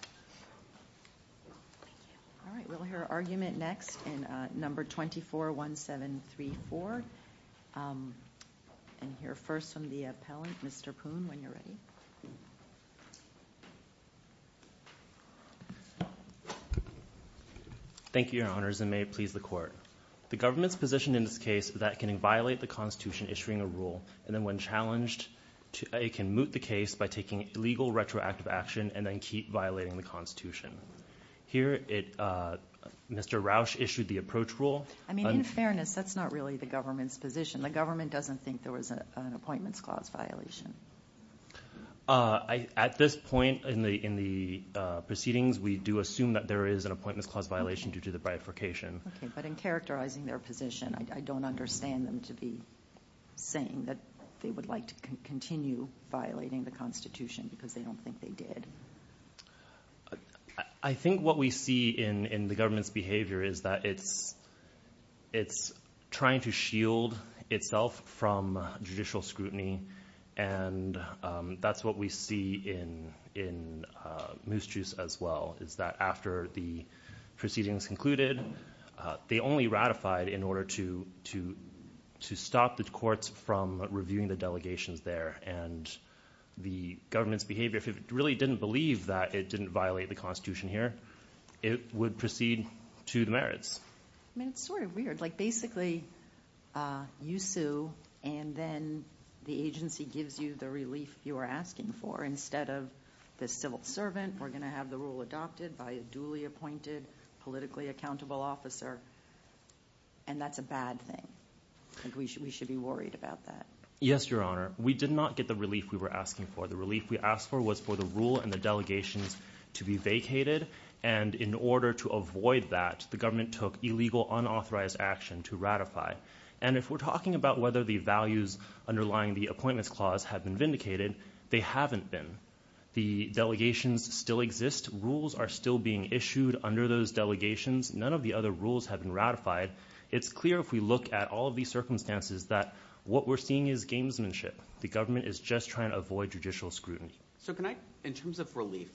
Thank you. All right, we'll hear argument next in number 241734, and hear first from the appellant, Mr. Poon, when you're ready. Thank you, Your Honors, and may it please the Court. The government's position in this case is that it can violate the Constitution issuing a rule, and then when challenged, it can moot the case by taking illegal retroactive action and then keep violating the Constitution. Here Mr. Roush issued the approach rule. I mean, in fairness, that's not really the government's position. The government doesn't think there was an appointments clause violation. At this point in the proceedings, we do assume that there is an appointments clause violation due to the bifurcation. Okay, but in characterizing their position, I don't understand them to be saying that they would like to continue violating the Constitution because they don't think they did. I think what we see in the government's behavior is that it's trying to shield itself from judicial scrutiny, and that's what we see in Moose Juice as well, is that after the proceedings concluded, they only ratified in order to stop the courts from reviewing the delegations there, and the government's behavior, if it really didn't believe that it didn't violate the Constitution here, it would proceed to the merits. I mean, it's sort of weird, like basically you sue, and then the agency gives you the relief you were asking for instead of the civil servant, we're going to have the rule adopted by a duly appointed, politically accountable officer, and that's a bad thing. We should be worried about that. Yes, Your Honor. We did not get the relief we were asking for. The relief we asked for was for the rule and the delegations to be vacated, and in order to avoid that, the government took illegal, unauthorized action to ratify. And if we're talking about whether the values underlying the appointments clause have been vindicated, they haven't been. The delegations still exist, rules are still being issued under those delegations, none of the other rules have been ratified. It's clear if we look at all of these circumstances that what we're seeing is gamesmanship. The government is just trying to avoid judicial scrutiny. So can I, in terms of relief,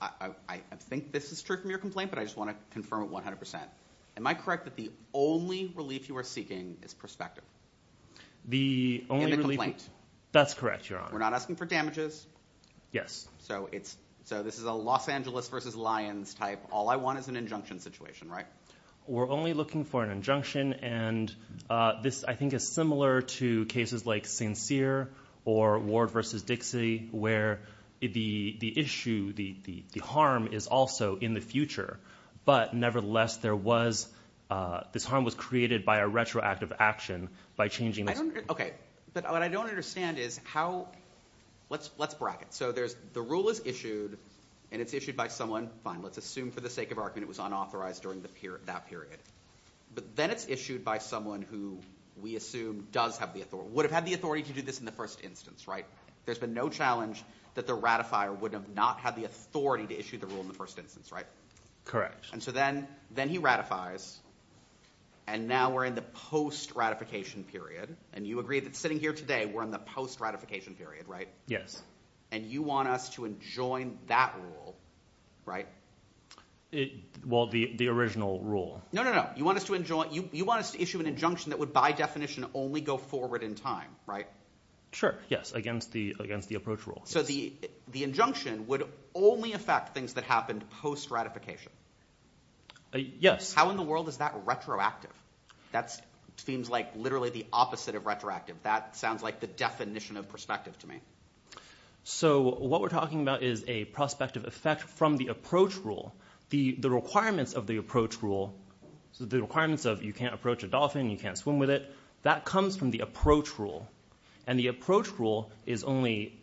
I think this is true from your complaint, but I just want to confirm it 100%. Am I correct that the only relief you are seeking is perspective? The only relief... In the complaint. That's correct, Your Honor. We're not asking for damages. Yes. So this is a Los Angeles versus Lyons type, all I want is an injunction situation, right? We're only looking for an injunction, and this, I think, is similar to cases like Sincere or Ward versus Dixie, where the issue, the harm is also in the future, but nevertheless there was, this harm was created by a retroactive action, by changing... Okay, but what I don't understand is how, let's bracket, so there's, the rule is issued, and it's issued by someone, fine, let's assume for the sake of argument it was unauthorized during that period, but then it's issued by someone who we assume does have the authority, would have had the authority to do this in the first instance, right? There's been no challenge that the ratifier would have not had the authority to issue the rule in the first instance, right? Correct. And so then he ratifies, and now we're in the post-ratification period, and you agree that sitting here today we're in the post-ratification period, right? Yes. And you want us to enjoin that rule, right? Well, the original rule. No, no, no, you want us to enjoin, you want us to issue an injunction that would by definition only go forward in time, right? Sure, yes, against the approach rule. So the injunction would only affect things that happened post-ratification? Yes. How in the world is that retroactive? That seems like literally the opposite of retroactive. That sounds like the definition of prospective to me. So what we're talking about is a prospective effect from the approach rule. The requirements of the approach rule, so the requirements of you can't approach a dolphin, you can't swim with it, that comes from the approach rule. And the approach rule is only,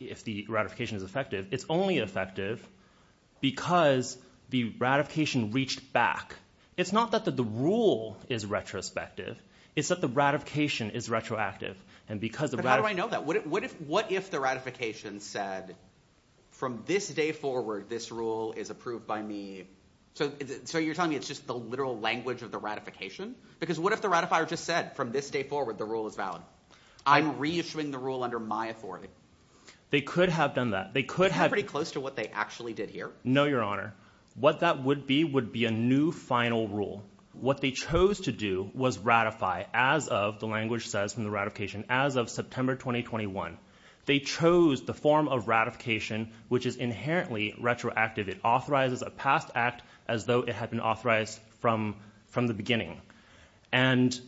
if the ratification is effective, it's only effective because the ratification reached back. It's not that the rule is retrospective, it's that the ratification is retroactive. And because the ratification... But how do I know that? What if the ratification said, from this day forward, this rule is approved by me? So you're telling me it's just the literal language of the ratification? Because what if the ratifier just said, from this day forward, the rule is valid? I'm reissuing the rule under my authority. They could have done that. They could have... Isn't that pretty close to what they actually did here? No, Your Honor. What that would be would be a new final rule. What they chose to do was ratify as of, the language says, from the ratification, as of September 2021. They chose the form of ratification, which is inherently retroactive. It authorizes a past act as though it had been authorized from the beginning. And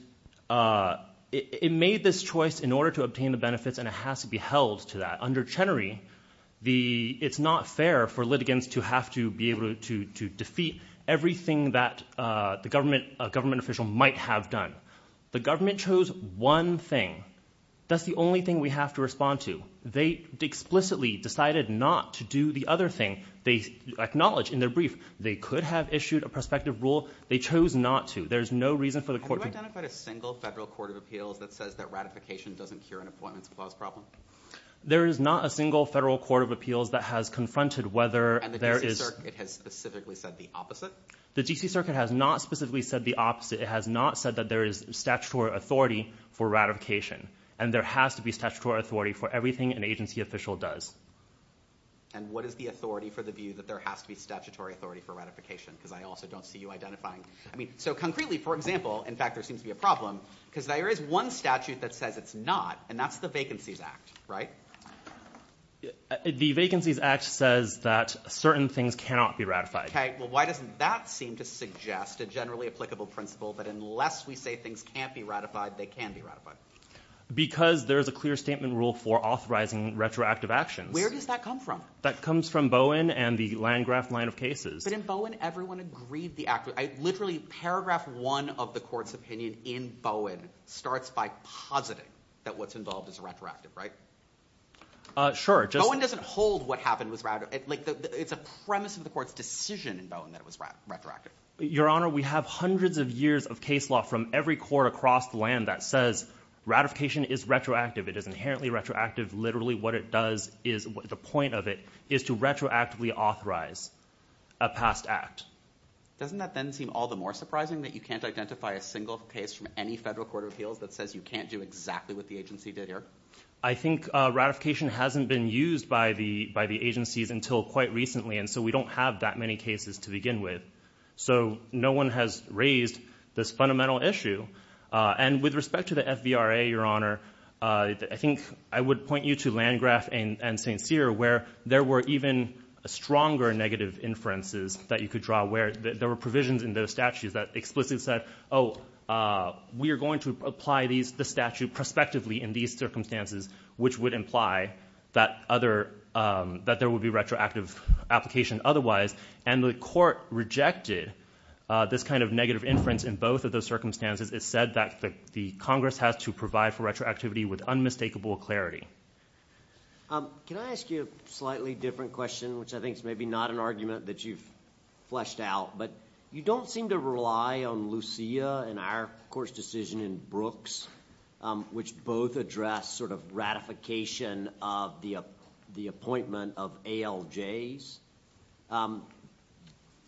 it made this choice in order to obtain the benefits, and it has to be held to that. Under Chenery, it's not fair for litigants to have to be able to defeat everything that a government official might have done. The government chose one thing. That's the only thing we have to respond to. They explicitly decided not to do the other thing. They acknowledged in their brief, they could have issued a prospective rule. They chose not to. There's no reason for the court to... Have you identified a single federal court of appeals that says that ratification doesn't cure an appointments clause problem? There is not a single federal court of appeals that has confronted whether there is... And the DC Circuit has specifically said the opposite? The DC Circuit has not specifically said the opposite. It has not said that there is statutory authority for ratification. And there has to be statutory authority for everything an agency official does. And what is the authority for the view that there has to be statutory authority for ratification? Because I also don't see you identifying... I mean, so concretely, for example, in fact, there seems to be a problem because there is one statute that says it's not, and that's the Vacancies Act, right? The Vacancies Act says that certain things cannot be ratified. Okay, well, why doesn't that seem to suggest a generally applicable principle that unless we say things can't be ratified, they can be ratified? Because there is a clear statement rule for authorizing retroactive actions. Where does that come from? That comes from Bowen and the Landgraft line of cases. But in Bowen, everyone agreed the act... I literally... Paragraph one of the court's opinion in Bowen starts by positing that what's involved is retroactive, right? Uh, sure. Just... Bowen doesn't hold what happened was retroactive. It's a premise of the court's decision in Bowen that it was retroactive. Your Honor, we have hundreds of years of case law from every court across the land that says ratification is retroactive. It is inherently retroactive. Literally what it does is... The point of it is to retroactively authorize a past act. Doesn't that then seem all the more surprising that you can't identify a single case from any federal court of appeals that says you can't do exactly what the agency did here? I think ratification hasn't been used by the agencies until quite recently, and so we don't have that many cases to begin with. So no one has raised this fundamental issue. And with respect to the FVRA, Your Honor, I think I would point you to Landgraf and St. Cyr where there were even stronger negative inferences that you could draw where there were provisions in those statutes that explicitly said, oh, we are going to apply the statute prospectively in these circumstances, which would imply that there would be retroactive application otherwise, and the court rejected this kind of negative inference in both of those circumstances. It said that the Congress has to provide for retroactivity with unmistakable clarity. Can I ask you a slightly different question, which I think is maybe not an argument that you've fleshed out, but you don't seem to rely on Lucia and our court's decision in Brooks, which both address sort of ratification of the appointment of ALJs,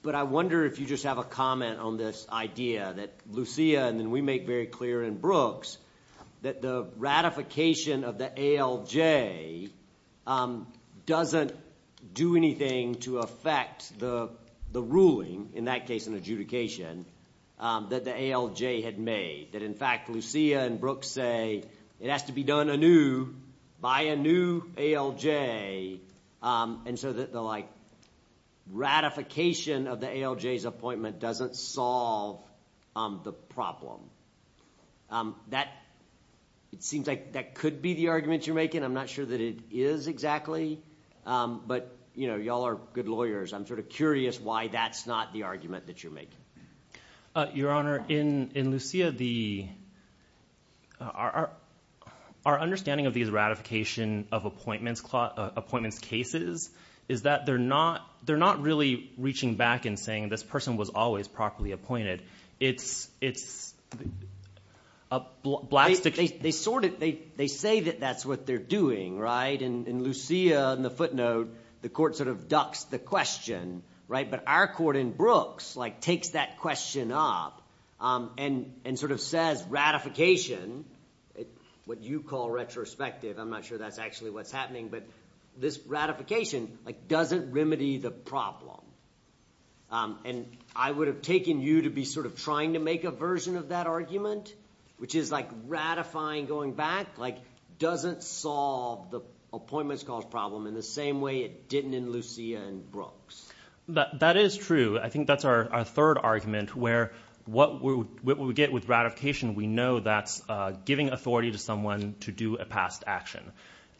but I wonder if you just have a comment on this idea that Lucia, and then we make very clear in Brooks, that the ratification of the ALJ doesn't do anything to affect the ruling, in that case an adjudication, that the ALJ had made, that in fact Lucia and Brooks say it has to be done anew by a new ALJ, and so that the ratification of the ALJ's appointment doesn't solve the problem. It seems like that could be the argument you're making. I'm not sure that it is exactly, but y'all are good lawyers. I'm sort of curious why that's not the argument that you're making. Your Honor, in Lucia, our understanding of these ratification of appointments cases is that they're not really reaching back and saying this person was always properly appointed. It's a black stick. They sort of, they say that that's what they're doing, right, and in Lucia, in the footnote, the court sort of ducks the question, right, but our court in Brooks takes that question up and sort of says ratification, what you call retrospective, I'm not sure that's actually what's happening, but this ratification doesn't remedy the problem, and I would have taken you to be sort of trying to make a version of that argument, which is like ratifying going back, like doesn't solve the appointments cause problem in the same way it didn't in Lucia and Brooks. That is true. I think that's our third argument, where what we get with ratification, we know that's giving authority to someone to do a past action,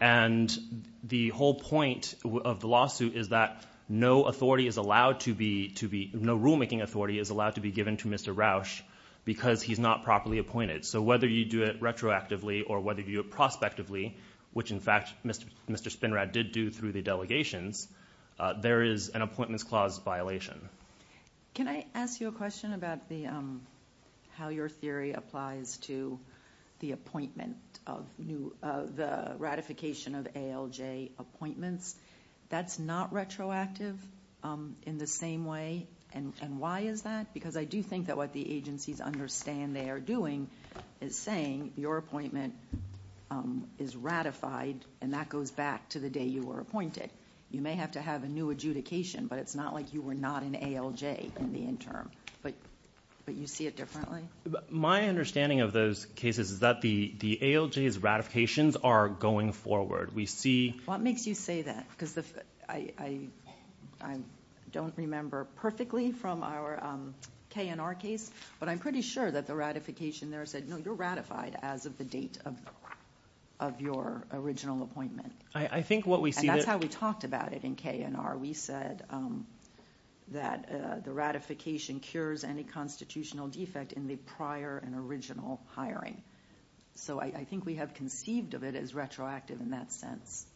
and the whole point of the lawsuit is that no authority is allowed to be, no rulemaking authority is allowed to be given to Mr. Roush because he's not properly appointed. So whether you do it retroactively or whether you do it prospectively, which in fact Mr. Spinrad did do through the delegations, there is an appointments clause violation. Can I ask you a question about how your theory applies to the appointment of new, the ratification of ALJ appointments? That's not retroactive in the same way, and why is that? Because I do think that what the agencies understand they are doing is saying your appointment is ratified, and that goes back to the day you were appointed. You may have to have a new adjudication, but it's not like you were not an ALJ in the interim. But you see it differently? My understanding of those cases is that the ALJ's ratifications are going forward. We see- What makes you say that? Because I don't remember perfectly from our K&R case, but I'm pretty sure that the ratification there said, no, you're ratified as of the date of your original appointment. I think what we see- And that's how we talked about it in K&R. We said that the ratification cures any constitutional defect in the prior and original hiring. So I think we have conceived of it as retroactive in that sense.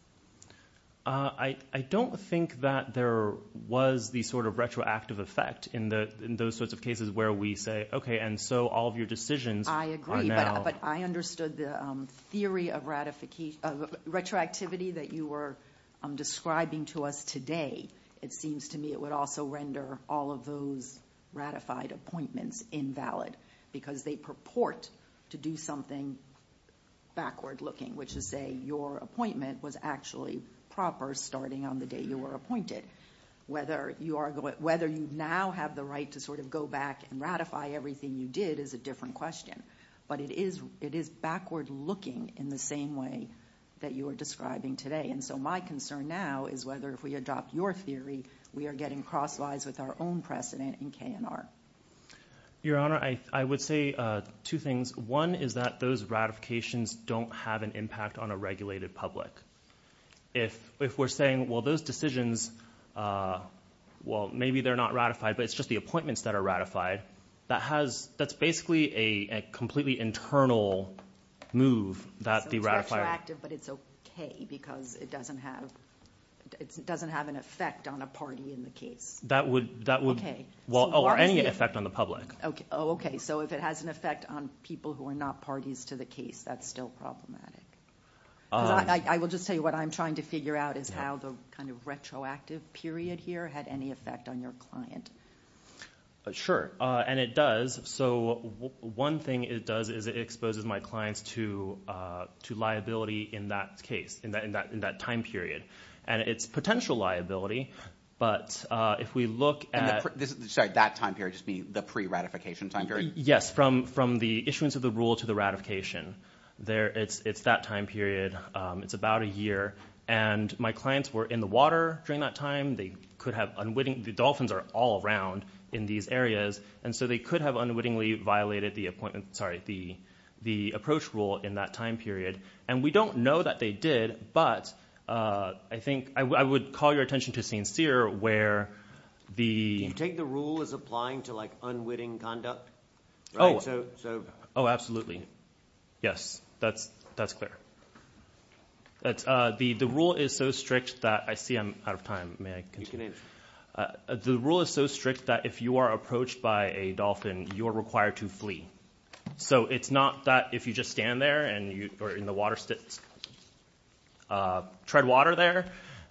I don't think that there was the sort of retroactive effect in those sorts of cases where we say, okay, and so all of your decisions are now- I agree, but I understood the theory of retroactivity that you were describing to us today. It seems to me it would also render all of those ratified appointments invalid because they purport to do something backward looking, which is say your appointment was actually proper starting on the day you were appointed. Whether you now have the right to sort of go back and ratify everything you did is a different question. But it is backward looking in the same way that you are describing today. And so my concern now is whether if we adopt your theory, we are getting crosswise with our own precedent in K&R. Your Honor, I would say two things. One is that those ratifications don't have an impact on a regulated public. If we're saying, well, those decisions, well, maybe they're not ratified, but it's just the appointments that are ratified, that's basically a completely internal move that the ratifier- So it's retroactive, but it's okay because it doesn't have an effect on a party in the case. Okay. Well, or any effect on the public. Okay. Oh, okay. So if it has an effect on people who are not parties to the case, that's still problematic. I will just tell you what I'm trying to figure out is how the kind of retroactive period here had any effect on your client. Sure. And it does. So one thing it does is it exposes my clients to liability in that case, in that time period. And it's potential liability. But if we look at- Sorry, that time period, just meaning the pre-ratification time period? Yes. From the issuance of the rule to the ratification. It's that time period. It's about a year. And my clients were in the water during that time. They could have unwitting- The dolphins are all around in these areas. And so they could have unwittingly violated the appointment, sorry, the approach rule in that time period. And we don't know that they did, but I think I would call your attention to Saint Cyr where the- Do you take the rule as applying to like unwitting conduct? So- Oh, absolutely. Yes. That's clear. The rule is so strict that- I see I'm out of time. May I continue? You can answer. The rule is so strict that if you are approached by a dolphin, you are required to flee. So it's not that if you just stand there or in the water, tread water there,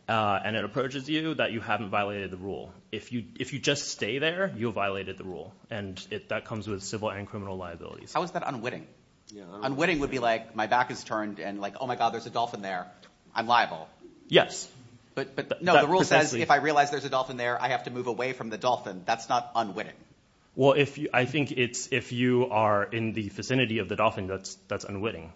and it approaches you that you haven't violated the rule. If you just stay there, you violated the rule. And that comes with civil and criminal liabilities. How is that unwitting? Yeah. Unwitting would be like, my back is turned and like, oh my God, there's a dolphin there. I'm liable. Yes. But no, the rule says if I realize there's a dolphin there, I have to move away from the dolphin. That's not unwitting. Well, if you- I think it's if you are in the vicinity of the dolphin, that's unwitting.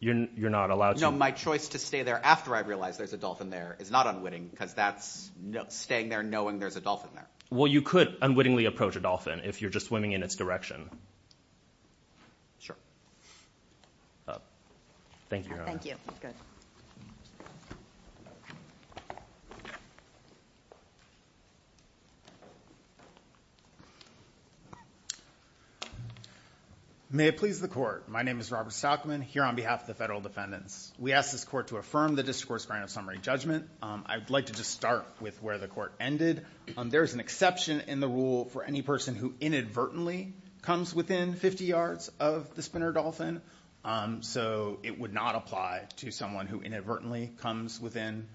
You're not allowed to- No, my choice to stay there after I realize there's a dolphin there is not unwitting because that's staying there knowing there's a dolphin there. Well, you could unwittingly approach a dolphin if you're just swimming in its direction. Sure. Thank you, Your Honor. Thank you. Good. May it please the court. My name is Robert Stockman here on behalf of the Federal Defendants. We ask this court to affirm the District Court's grant of summary judgment. I'd like to just start with where the court ended. There's an exception in the rule for any person who inadvertently comes within 50 yards of the spinner dolphin. So it would not apply to someone who inadvertently comes within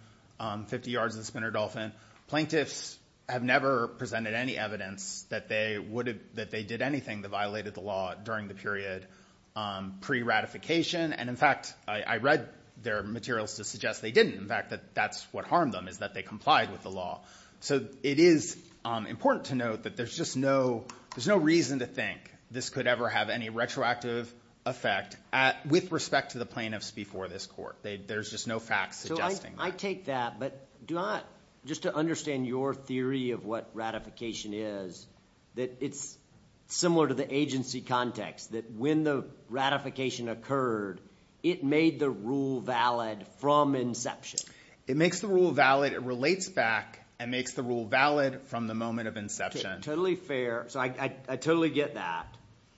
50 yards of the spinner dolphin. Plaintiffs have never presented any evidence that they would have- that they did anything that violated the law during the period pre-ratification. And in fact, I read their materials to suggest they didn't. In fact, that that's what harmed them is that they complied with the law. So it is important to note that there's just no- there's no reason to think this could ever have any retroactive effect with respect to the plaintiffs before this court. There's just no facts suggesting that. I take that. But do I- just to understand your theory of what ratification is, that it's similar to the agency context, that when the ratification occurred, it made the rule valid from inception. It makes the rule valid. It relates back and makes the rule valid from the moment of inception. Totally fair. So I totally get that.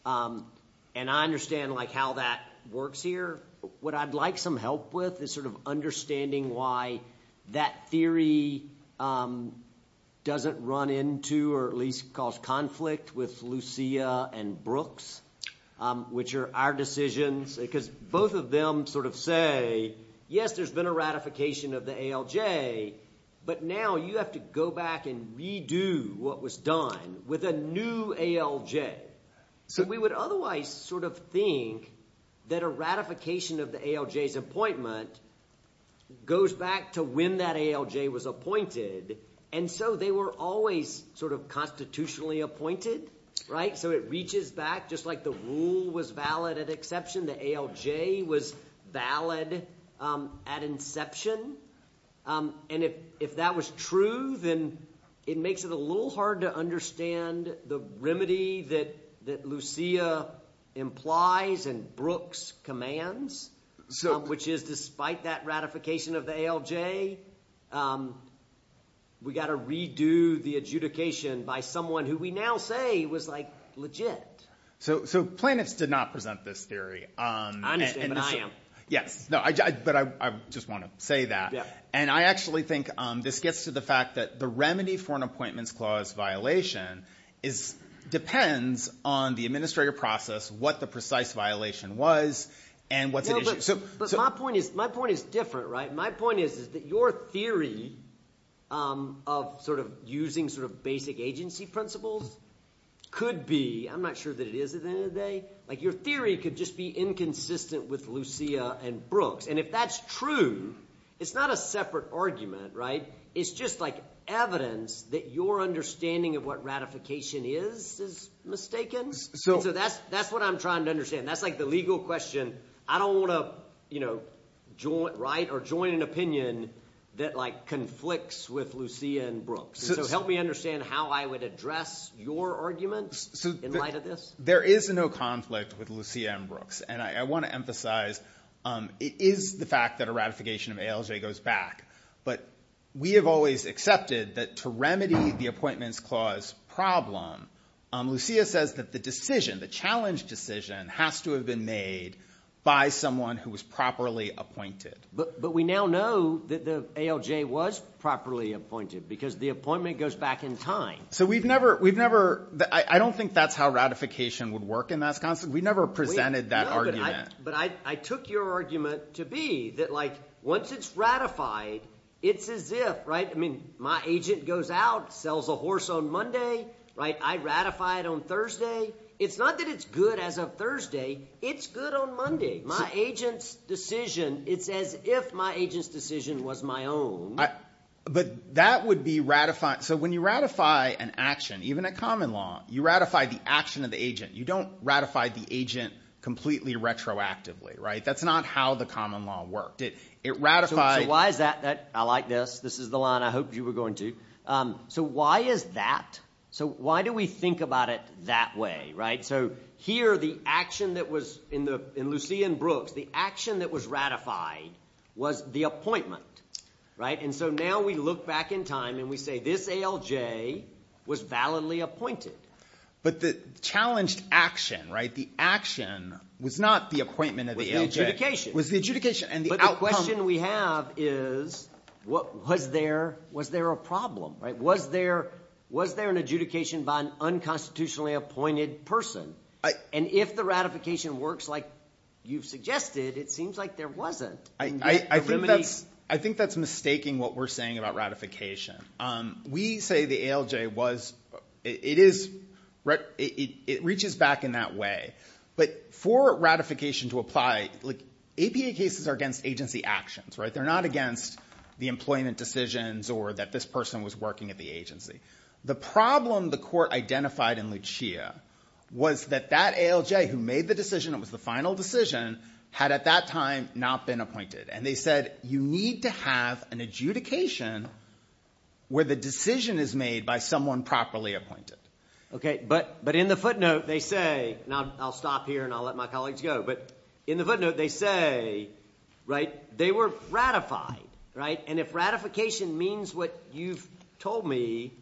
And I understand like how that works here. What I'd like some help with is sort of understanding why that theory doesn't run into or at least cause conflict with Lucia and Brooks, which are our decisions, because both of them sort of say, yes, there's been a ratification of the ALJ. But now you have to go back and redo what was done with a new ALJ. So we would otherwise sort of think that a ratification of the ALJ's appointment goes back to when that ALJ was appointed. And so they were always sort of constitutionally appointed, right? So it reaches back, just like the rule was valid at exception, the ALJ was valid at inception. And if that was true, then it makes it a little hard to understand the remedy that Lucia implies and Brooks commands, which is despite that ratification of the ALJ, we got to redo the adjudication by someone who we now say was like legit. So Planets did not present this theory. I understand, but I am. Yes. But I just want to say that. And I actually think this gets to the fact that the remedy for an appointments clause violation depends on the administrative process, what the precise violation was, and what's at issue. But my point is different, right? My point is that your theory of sort of using sort of basic agency principles could be, I'm not sure that it is at the end of the day, like your theory could just be inconsistent with Lucia and Brooks. And if that's true, it's not a separate argument, right? It's just like evidence that your understanding of what ratification is, is mistaken. So that's what I'm trying to understand. That's like the legal question. I don't want to, you know, write or join an opinion that like conflicts with Lucia and So help me understand how I would address your argument in light of this. There is no conflict with Lucia and Brooks. And I want to emphasize, it is the fact that a ratification of ALJ goes back. But we have always accepted that to remedy the appointments clause problem, Lucia says that the decision, the challenge decision has to have been made by someone who was properly appointed. But we now know that the ALJ was properly appointed because the appointment goes back in time. So we've never, we've never, I don't think that's how ratification would work in Wisconsin. We never presented that argument. But I took your argument to be that, like, once it's ratified, it's as if, right, I mean, my agent goes out, sells a horse on Monday, right? I ratify it on Thursday. It's not that it's good as of Thursday. It's good on Monday. My agent's decision, it's as if my agent's decision was my own. But that would be ratified. So when you ratify an action, even a common law, you ratify the action of the agent. You don't ratify the agent completely retroactively, right? That's not how the common law worked. It ratified. So why is that? I like this. This is the line I hoped you were going to. So why is that? So why do we think about it that way, right? So here, the action that was in the, in Lucia and Brooks, the action that was ratified was the appointment, right? And so now we look back in time and we say this ALJ was validly appointed. But the challenged action, right? The action was not the appointment of the ALJ. It was the adjudication. But the question we have is, was there a problem, right? Was there an adjudication by an unconstitutionally appointed person? And if the ratification works like you've suggested, it seems like there wasn't. I think that's mistaking what we're saying about ratification. We say the ALJ was, it is, it reaches back in that way. But for ratification to apply, like APA cases are against agency actions, right? They're not against the employment decisions or that this person was working at the agency. The problem the court identified in Lucia was that that ALJ who made the decision, it was the final decision, had at that time not been appointed. And they said, you need to have an adjudication where the decision is made by someone properly appointed. Okay. But in the footnote, they say, now I'll stop here and I'll let my colleagues go. But in the footnote, they say, right, they were ratified, right? And if ratification means what you've told me,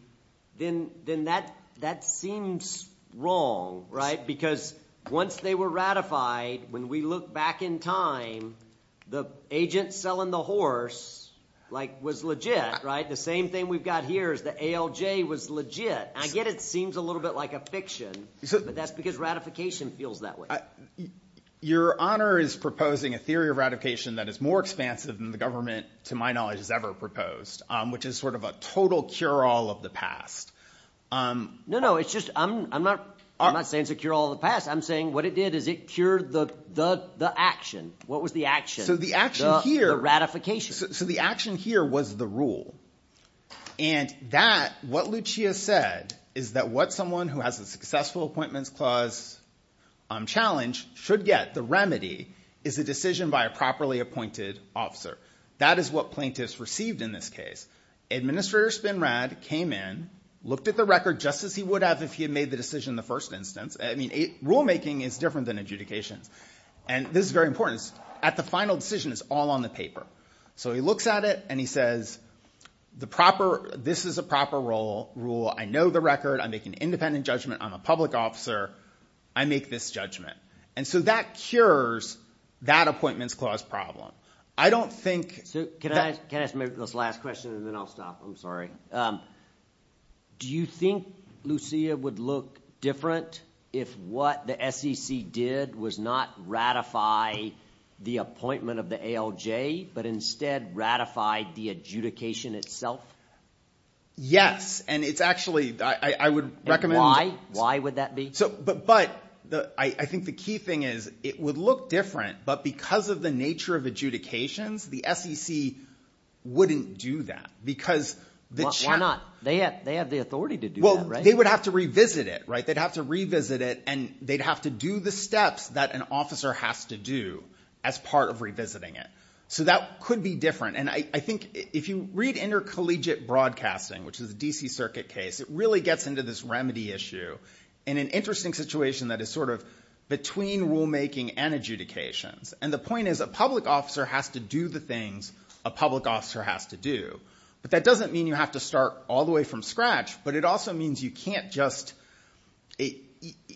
then that seems wrong, right? Because once they were ratified, when we look back in time, the agent selling the horse was legit, right? The same thing we've got here is the ALJ was legit. And I get it seems a little bit like a fiction, but that's because ratification feels that way. Your honor is proposing a theory of ratification that is more expansive than the government, to my knowledge, has ever proposed, which is sort of a total cure-all of the past. No, no. I'm not saying it's a cure-all of the past. I'm saying what it did is it cured the action. What was the action? The ratification. So the action here was the rule. And that, what Lucia said, is that what someone who has a successful appointments clause challenge should get, the remedy, is a decision by a properly appointed officer. That is what plaintiffs received in this case. Administrator Spinrad came in, looked at the record just as he would have if he had made the decision in the first instance. I mean, rulemaking is different than adjudications. And this is very important. At the final decision, it's all on the paper. So he looks at it, and he says, this is a proper rule. I know the record. I make an independent judgment. I'm a public officer. I make this judgment. And so that cures that appointments clause problem. I don't think- So can I ask maybe this last question, and then I'll stop. I'm sorry. Do you think Lucia would look different if what the SEC did was not ratify the appointment of the ALJ, but instead ratified the adjudication itself? Yes. And it's actually, I would recommend- And why? Why would that be? So, but I think the key thing is it would look different, but because of the nature of adjudications, the SEC wouldn't do that, because the- Why not? They have the authority to do that, right? Well, they would have to revisit it, right? They'd have to revisit it, and they'd have to do the steps that an officer has to do as part of revisiting it. So that could be different. And I think if you read intercollegiate broadcasting, which is a DC Circuit case, it really gets into this remedy issue in an interesting situation that is sort of between rulemaking and adjudications. And the point is a public officer has to do the things a public officer has to do. But that doesn't mean you have to start all the way from scratch, but it also means you can't just-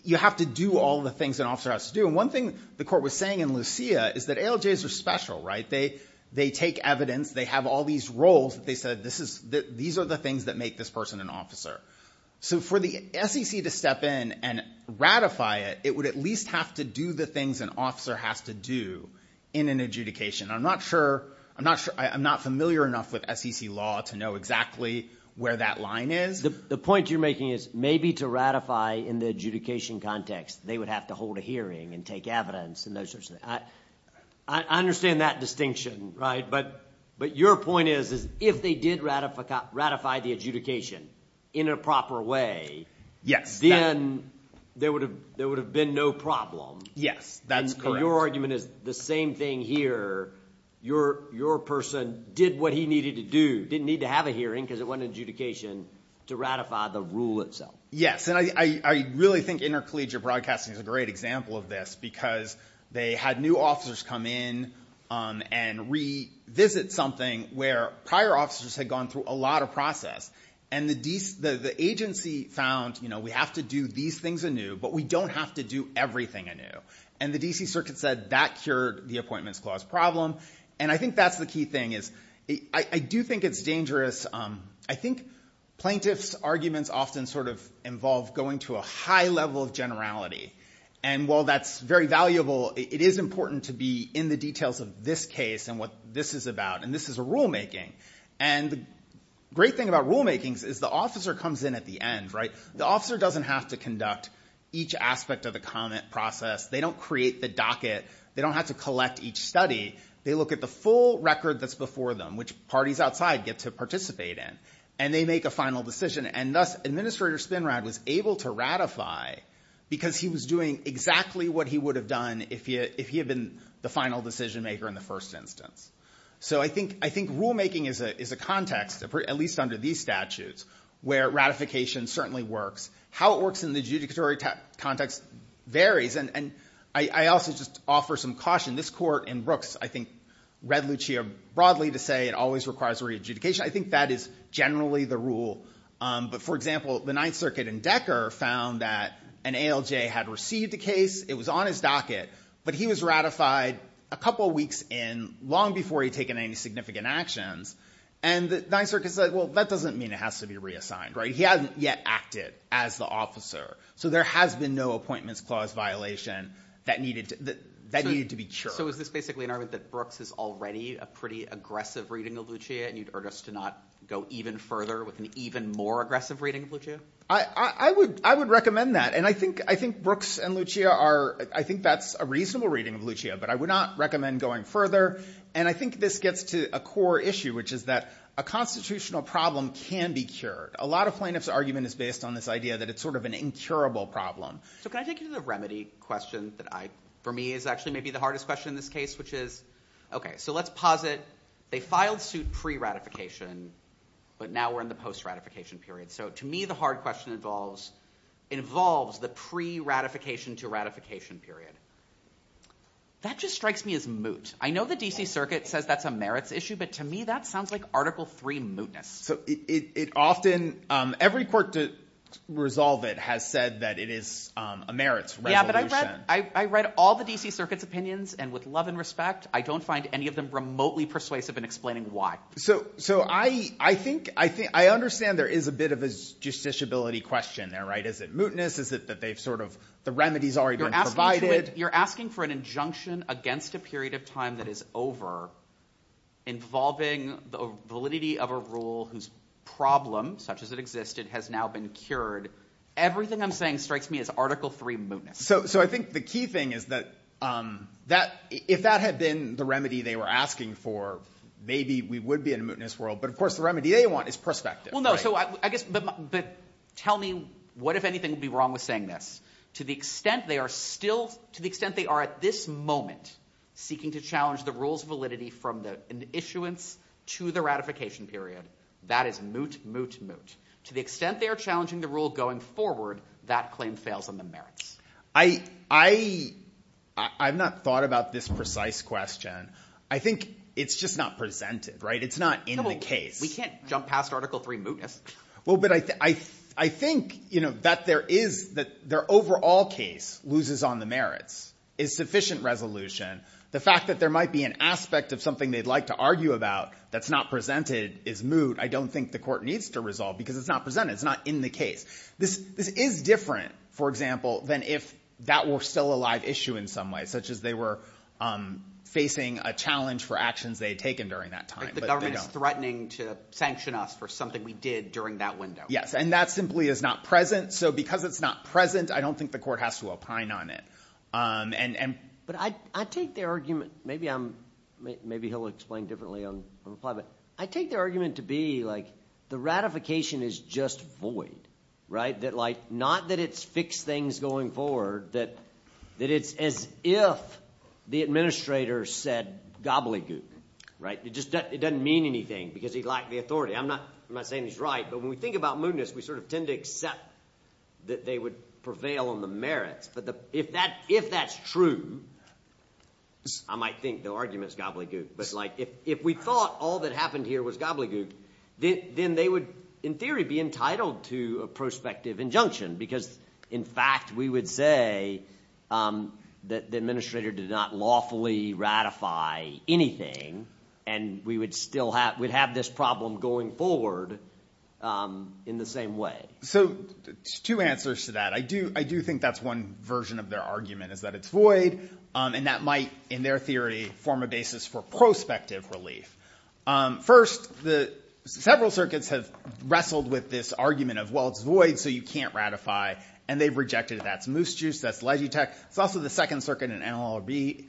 You have to do all the things an officer has to do. And one thing the court was saying in Lucia is that ALJs are special, right? They take evidence. They have all these roles that they said, these are the things that make this person an officer. So for the SEC to step in and ratify it, it would at least have to do the things an officer has to do in an adjudication. I'm not familiar enough with SEC law to know exactly where that line is. The point you're making is maybe to ratify in the adjudication context, they would have to hold a hearing and take evidence and those sorts of things. I understand that distinction, right? But your point is if they did ratify the adjudication in a proper way, then there would have been no problem. Yes, that's correct. So your argument is the same thing here. Your person did what he needed to do, didn't need to have a hearing because it wasn't an adjudication to ratify the rule itself. Yes, and I really think intercollegiate broadcasting is a great example of this because they had new officers come in and revisit something where prior officers had gone through a lot of process. And the agency found we have to do these things anew, but we don't have to do everything anew. And the D.C. Circuit said that cured the Appointments Clause problem. And I think that's the key thing is I do think it's dangerous. I think plaintiffs' arguments often sort of involve going to a high level of generality. And while that's very valuable, it is important to be in the details of this case and what this is about. And this is a rulemaking. And the great thing about rulemakings is the officer comes in at the end, right? The officer doesn't have to conduct each aspect of the comment process. They don't create the docket. They don't have to collect each study. They look at the full record that's before them, which parties outside get to participate in, and they make a final decision. And thus, Administrator Spinrad was able to ratify because he was doing exactly what he would have done if he had been the final decision maker in the first instance. So I think rulemaking is a context, at least under these statutes, where ratification certainly works. How it works in the adjudicatory context varies. And I also just offer some caution. This court in Brooks, I think, read Lucia broadly to say it always requires re-adjudication. I think that is generally the rule. But for example, the Ninth Circuit in Decker found that an ALJ had received a case. It was on his docket. But he was ratified a couple weeks in, long before he'd taken any significant actions. And the Ninth Circuit said, well, that doesn't mean it has to be reassigned, right? He hasn't yet acted as the officer. So there has been no Appointments Clause violation that needed to be cured. So is this basically an argument that Brooks is already a pretty aggressive reading of Lucia, and you'd urge us to not go even further with an even more aggressive reading of Lucia? I would recommend that. And I think Brooks and Lucia are, I think that's a reasonable reading of Lucia. But I would not recommend going further. And I think this gets to a core issue, which is that a constitutional problem can be cured. A lot of plaintiffs' argument is based on this idea that it's sort of an incurable problem. So can I take you to the remedy question that I, for me, is actually maybe the hardest question in this case, which is, OK, so let's posit they filed suit pre-ratification, but now we're in the post-ratification period. So to me, the hard question involves the pre-ratification to ratification period. That just strikes me as moot. I know the D.C. Circuit says that's a merits issue, but to me, that sounds like Article 3 mootness. So it often, every court to resolve it has said that it is a merits resolution. Yeah, but I read all the D.C. Circuit's opinions, and with love and respect, I don't find any of them remotely persuasive in explaining why. So I think, I understand there is a bit of a justiciability question there, right? Is it mootness? Is it that they've sort of, the remedy's already been provided? You're asking for an injunction against a period of time that is over involving the validity of a rule whose problem, such as it existed, has now been cured. Everything I'm saying strikes me as Article 3 mootness. So I think the key thing is that if that had been the remedy they were asking for, maybe we would be in a mootness world, but of course, the remedy they want is perspective, right? Well, no, so I guess, but tell me what, if anything, would be wrong with saying this. To the extent they are still, to the extent they are at this moment seeking to challenge the rule's validity from the issuance to the ratification period, that is moot, moot, To the extent they are challenging the rule going forward, that claim fails on the merits. I've not thought about this precise question. I think it's just not presented, right? It's not in the case. We can't jump past Article 3 mootness. Well, but I think, you know, that there is, that their overall case loses on the merits. Is sufficient resolution. The fact that there might be an aspect of something they'd like to argue about that's not presented is moot. I don't think the court needs to resolve because it's not presented. It's not in the case. This is different, for example, than if that were still a live issue in some way, such as they were facing a challenge for actions they had taken during that time. But they don't. The government is threatening to sanction us for something we did during that window. Yes, and that simply is not present. So because it's not present, I don't think the court has to opine on it. But I take their argument, maybe I'm, maybe he'll explain differently on the plot, but I take their argument to be like the ratification is just void, right? That like, not that it's fixed things going forward, that it's as if the administrator said gobbledygook, right? It just doesn't mean anything because he lacked the authority. I'm not saying he's right, but when we think about mootness, we sort of tend to accept that they would prevail on the merits. But if that's true, I might think the argument is gobbledygook. But like if we thought all that happened here was gobbledygook, then they would, in theory, be entitled to a prospective injunction because, in fact, we would say that the administrator did not lawfully ratify anything, and we would still have, we'd have this problem going forward in the same way. So two answers to that. I do, I do think that's one version of their argument is that it's void, and that might, in their theory, form a basis for prospective relief. First, the, several circuits have wrestled with this argument of, well, it's void, so you can't ratify, and they've rejected it. That's Moose Juice, that's Legitech, it's also the Second Circuit and NLRB,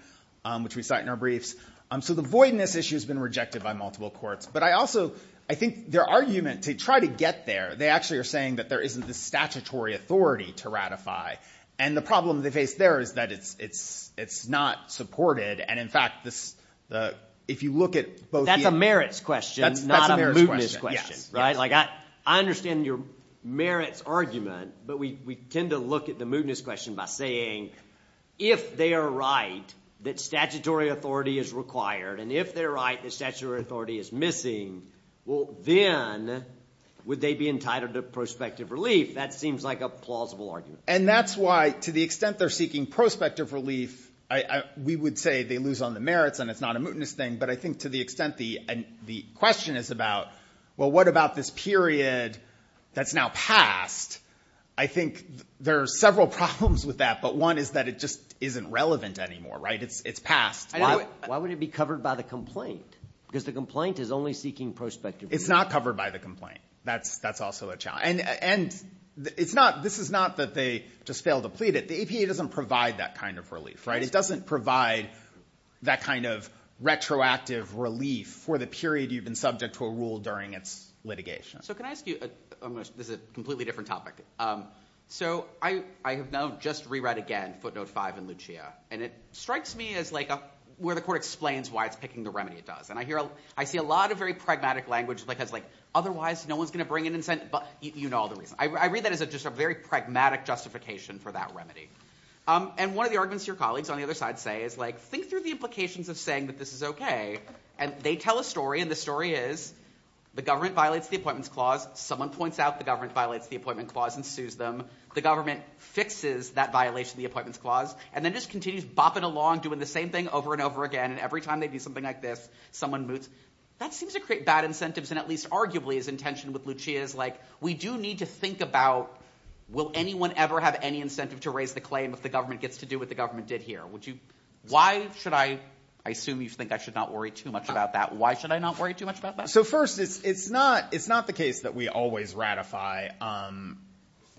which we cite in our briefs. So the voidness issue has been rejected by multiple courts, but I also, I think their argument to try to get there, they actually are saying that there isn't the statutory authority to ratify, and the problem they face there is that it's, it's, it's not supported, and in fact, this, the, if you look at both the- That's a merits question, not a mootness question. That's a merits question, yes. Right? Like, I understand your merits argument, but we, we tend to look at the mootness question by saying, if they are right that statutory authority is required, and if they're right that statutory authority is missing, well, then would they be entitled to prospective relief? That seems like a plausible argument. And that's why, to the extent they're seeking prospective relief, I, I, we would say they lose on the merits, and it's not a mootness thing, but I think to the extent the, the question is about, well, what about this period that's now passed? I think there are several problems with that, but one is that it just isn't relevant anymore, right? It's, it's passed. Why, why would it be covered by the complaint? Because the complaint is only seeking prospective relief. It's not covered by the complaint. That's, that's also a challenge. And, and, it's not, this is not that they just fail to plead it. The APA doesn't provide that kind of relief, right? It doesn't provide that kind of retroactive relief for the period you've been subject to a rule during its litigation. So can I ask you, I'm going to, this is a completely different topic. So I, I have now just re-read again footnote five in Lucia, and it strikes me as like a, where the court explains why it's picking the remedy it does, and I hear, I see a lot of very pragmatic language, like as like, otherwise no one's going to bring an incentive, but you know all the reasons. I read that as a, just a very pragmatic justification for that remedy. And one of the arguments your colleagues on the other side say is like, think through the implications of saying that this is okay, and they tell a story, and the story is, the government violates the appointments clause, someone points out the government violates the appointment clause and sues them, the government fixes that violation of the appointments clause, and then just continues bopping along, doing the same thing over and over again, and every time they do something like this, someone moots. That seems to create bad incentives, and at least arguably is intentioned with Lucia is like, we do need to think about, will anyone ever have any incentive to raise the claim if the government gets to do what the government did here? Would you, why should I, I assume you think I should not worry too much about that. Why should I not worry too much about that? So first, it's, it's not, it's not the case that we always ratify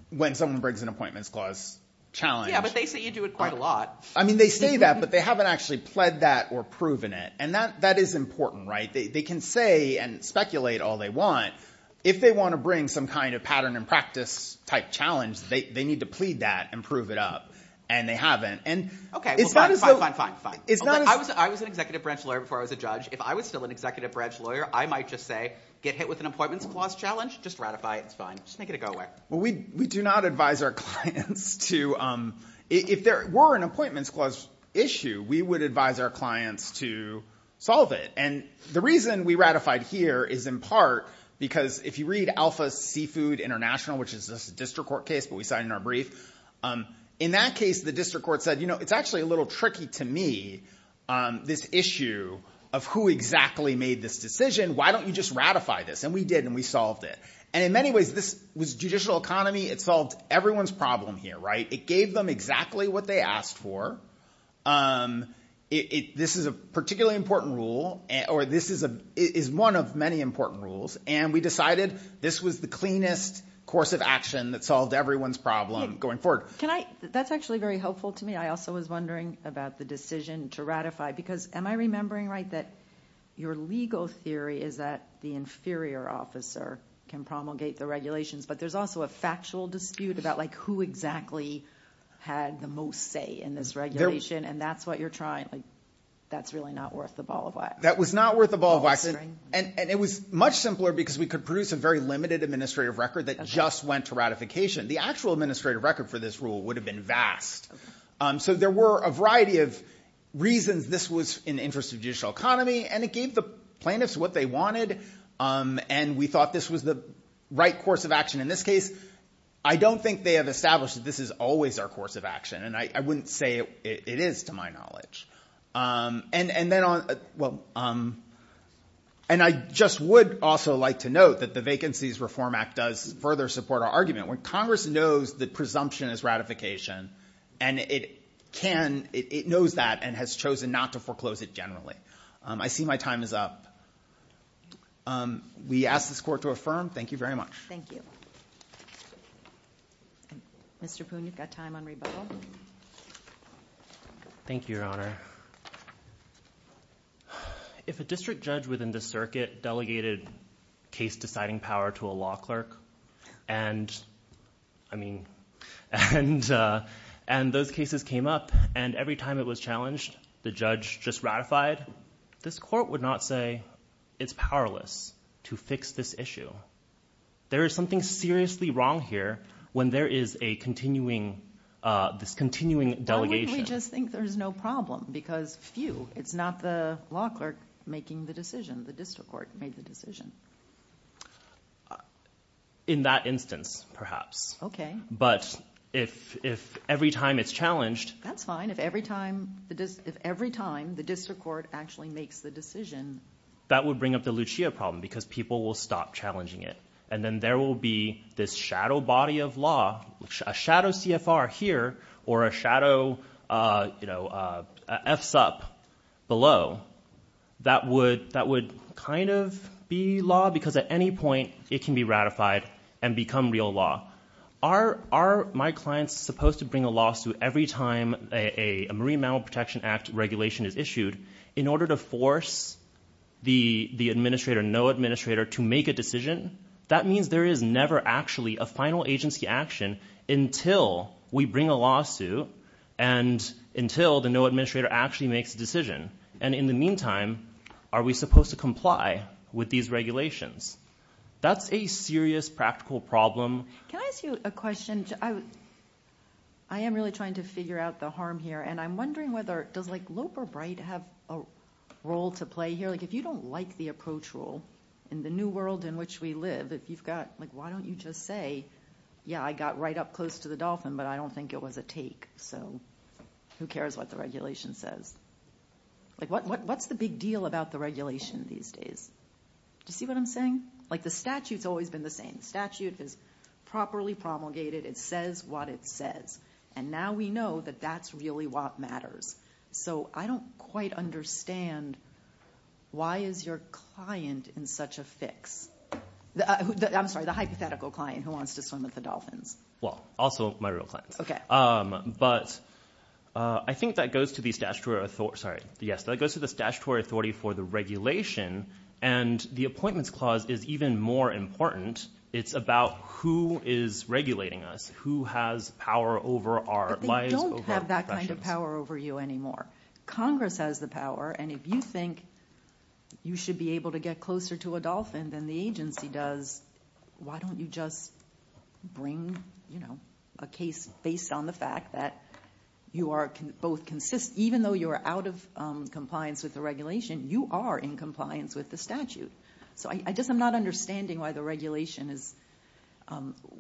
when someone brings an appointments clause challenge. Yeah, but they say you do it quite a lot. I mean, they say that, but they haven't actually pled that or proven it. And that, that is important, right? They can say and speculate all they want. If they want to bring some kind of pattern and practice type challenge, they need to plead that and prove it up. And they haven't. And it's not as though- Okay, fine, fine, fine, fine. It's not as- I was, I was an executive branch lawyer before I was a judge. If I was still an executive branch lawyer, I might just say, get hit with an appointments clause challenge. Just ratify it. It's fine. Just make it a go away. Well, we, we do not advise our clients to, if there were an appointments clause issue, we would advise our clients to solve it. And the reason we ratified here is in part because if you read Alpha Seafood International, which is a district court case, but we signed in our brief. In that case, the district court said, you know, it's actually a little tricky to me, this issue of who exactly made this decision. Why don't you just ratify this? And we did, and we solved it. And in many ways, this was judicial economy. It solved everyone's problem here, right? It gave them exactly what they asked for. This is a particularly important rule, or this is a, is one of many important rules. And we decided this was the cleanest course of action that solved everyone's problem going forward. Can I, that's actually very helpful to me. I also was wondering about the decision to ratify, because am I remembering right that your legal theory is that the inferior officer can promulgate the regulations, but there's also a factual dispute about like who exactly had the most say in this regulation. And that's what you're trying, like, that's really not worth the ball of wax. That was not worth the ball of wax, and it was much simpler because we could produce a very limited administrative record that just went to ratification. The actual administrative record for this rule would have been vast. So there were a variety of reasons this was in the interest of judicial economy, and it gave the plaintiffs what they wanted. And we thought this was the right course of action. In this case, I don't think they have established that this is always our course of action, and I wouldn't say it is to my knowledge. And then on, well, and I just would also like to note that the Vacancies Reform Act does further support our argument. When Congress knows that presumption is ratification, and it can, it knows that and has chosen not to foreclose it generally. I see my time is up. We ask this Court to affirm. Thank you very much. Thank you. Mr. Poon, you've got time on rebuttal. Thank you, Your Honor. If a district judge within the circuit delegated case-deciding power to a law clerk, and, I mean, and those cases came up, and every time it was challenged, the judge just ratified, this Court would not say, it's powerless to fix this issue. There is something seriously wrong here when there is a continuing, this continuing delegation. Why wouldn't we just think there's no problem? Because phew, it's not the law clerk making the decision. The district court made the decision. In that instance, perhaps. Okay. But if every time it's challenged. That's fine. If every time, if every time the district court actually makes the decision. That would bring up the Lucia problem, because people will stop challenging it. And then there will be this shadow body of law, a shadow CFR here, or a shadow FSUP below, that would, that would kind of be law, because at any point, it can be ratified and become real law. Are my clients supposed to bring a lawsuit every time a Marine Mammal Protection Act regulation is issued in order to force the administrator, no administrator, to make a That means there is never actually a final agency action until we bring a lawsuit and until the no administrator actually makes a decision. And in the meantime, are we supposed to comply with these regulations? That's a serious practical problem. Can I ask you a question? I am really trying to figure out the harm here. And I'm wondering whether, does like Lope or Bright have a role to play here? Like, if you don't like the approach rule in the new world in which we live, if you've got like, why don't you just say, yeah, I got right up close to the dolphin, but I don't think it was a take. So who cares what the regulation says? Like, what's the big deal about the regulation these days? Do you see what I'm saying? Like, the statute's always been the same. Statute is properly promulgated. It says what it says. And now we know that that's really what matters. So I don't quite understand, why is your client in such a fix? I'm sorry, the hypothetical client who wants to swim with the dolphins. Well, also my real clients. But I think that goes to the statutory authority, sorry, yes, that goes to the statutory authority for the regulation. And the Appointments Clause is even more important. It's about who is regulating us, who has power over our lives, over our professions. But they don't have that kind of power over you anymore. Congress has the power. And if you think you should be able to get closer to a dolphin than the agency does, why don't you just bring, you know, a case based on the fact that you are both, even though you are out of compliance with the regulation, you are in compliance with the statute. So I just am not understanding why the regulation is,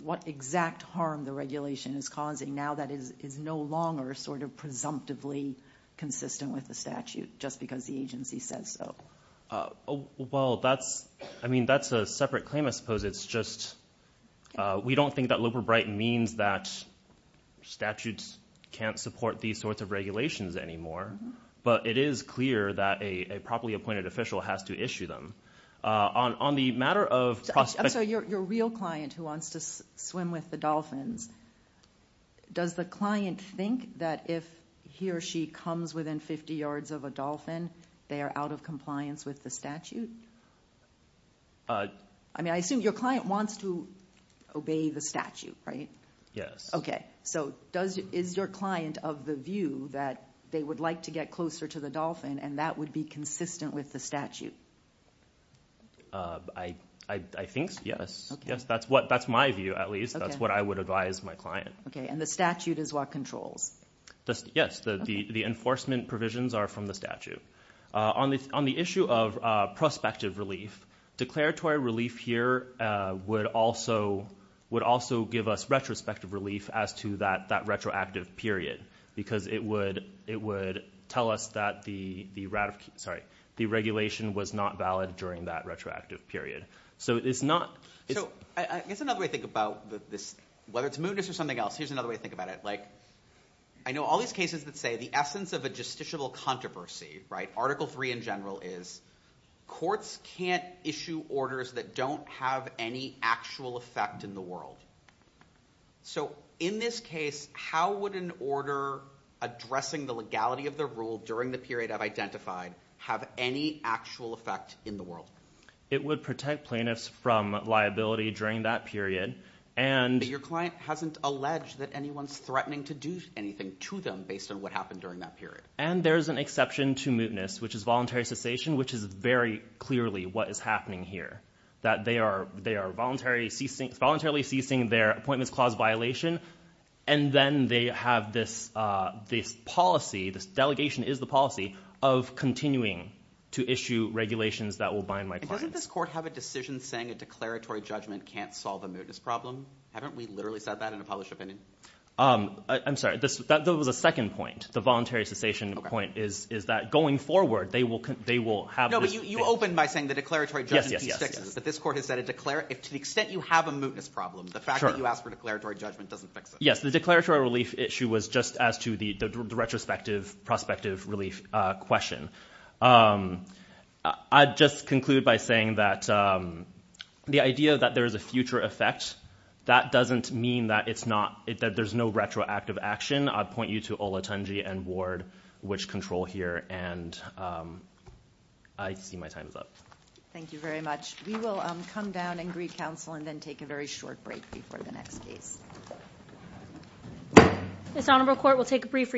what exact harm the regulation is causing now that it is no longer sort of presumptively consistent with the statute, just because the agency says so. Well, that's, I mean, that's a separate claim, I suppose, it's just, we don't think that Super Brighton means that statutes can't support these sorts of regulations anymore. But it is clear that a properly appointed official has to issue them. On the matter of prospect- I'm sorry, your real client who wants to swim with the dolphins, does the client think that if he or she comes within 50 yards of a dolphin, they are out of compliance with the statute? I mean, I assume your client wants to obey the statute, right? Yes. Okay. So is your client of the view that they would like to get closer to the dolphin and that would be consistent with the statute? I think so, yes. Yes, that's what, that's my view, at least, that's what I would advise my client. Okay. And the statute is what controls? Yes, the enforcement provisions are from the statute. On the issue of prospective relief, declaratory relief here would also give us retrospective relief as to that retroactive period, because it would tell us that the regulation was not valid during that retroactive period. So it's not- So I guess another way to think about this, whether it's mootness or something else, here's another way to think about it, like, I know all these cases that say the essence of a constitutional controversy, right, Article III in general is courts can't issue orders that don't have any actual effect in the world. So in this case, how would an order addressing the legality of the rule during the period I've identified have any actual effect in the world? It would protect plaintiffs from liability during that period, and- Your client hasn't alleged that anyone's threatening to do anything to them based on what happened during that period. And there's an exception to mootness, which is voluntary cessation, which is very clearly what is happening here, that they are voluntarily ceasing their appointments clause violation, and then they have this policy, this delegation is the policy, of continuing to issue regulations that will bind my clients. And doesn't this court have a decision saying a declaratory judgment can't solve a mootness problem? Haven't we literally said that in a published opinion? I'm sorry. That was a second point. The voluntary cessation point is that going forward, they will have this- No, but you opened by saying the declaratory judgment sticks, is that this court has said a declaratory- If to the extent you have a mootness problem, the fact that you ask for declaratory judgment doesn't fix it. Yes, the declaratory relief issue was just as to the retrospective, prospective relief question. I'd just conclude by saying that the idea that there is a future effect, that doesn't mean that there's no retroactive action. I'd point you to Olatunji and Ward, which control here, and I see my time is up. Thank you very much. We will come down and greet counsel and then take a very short break before the next case. This honorable court will take a brief recess.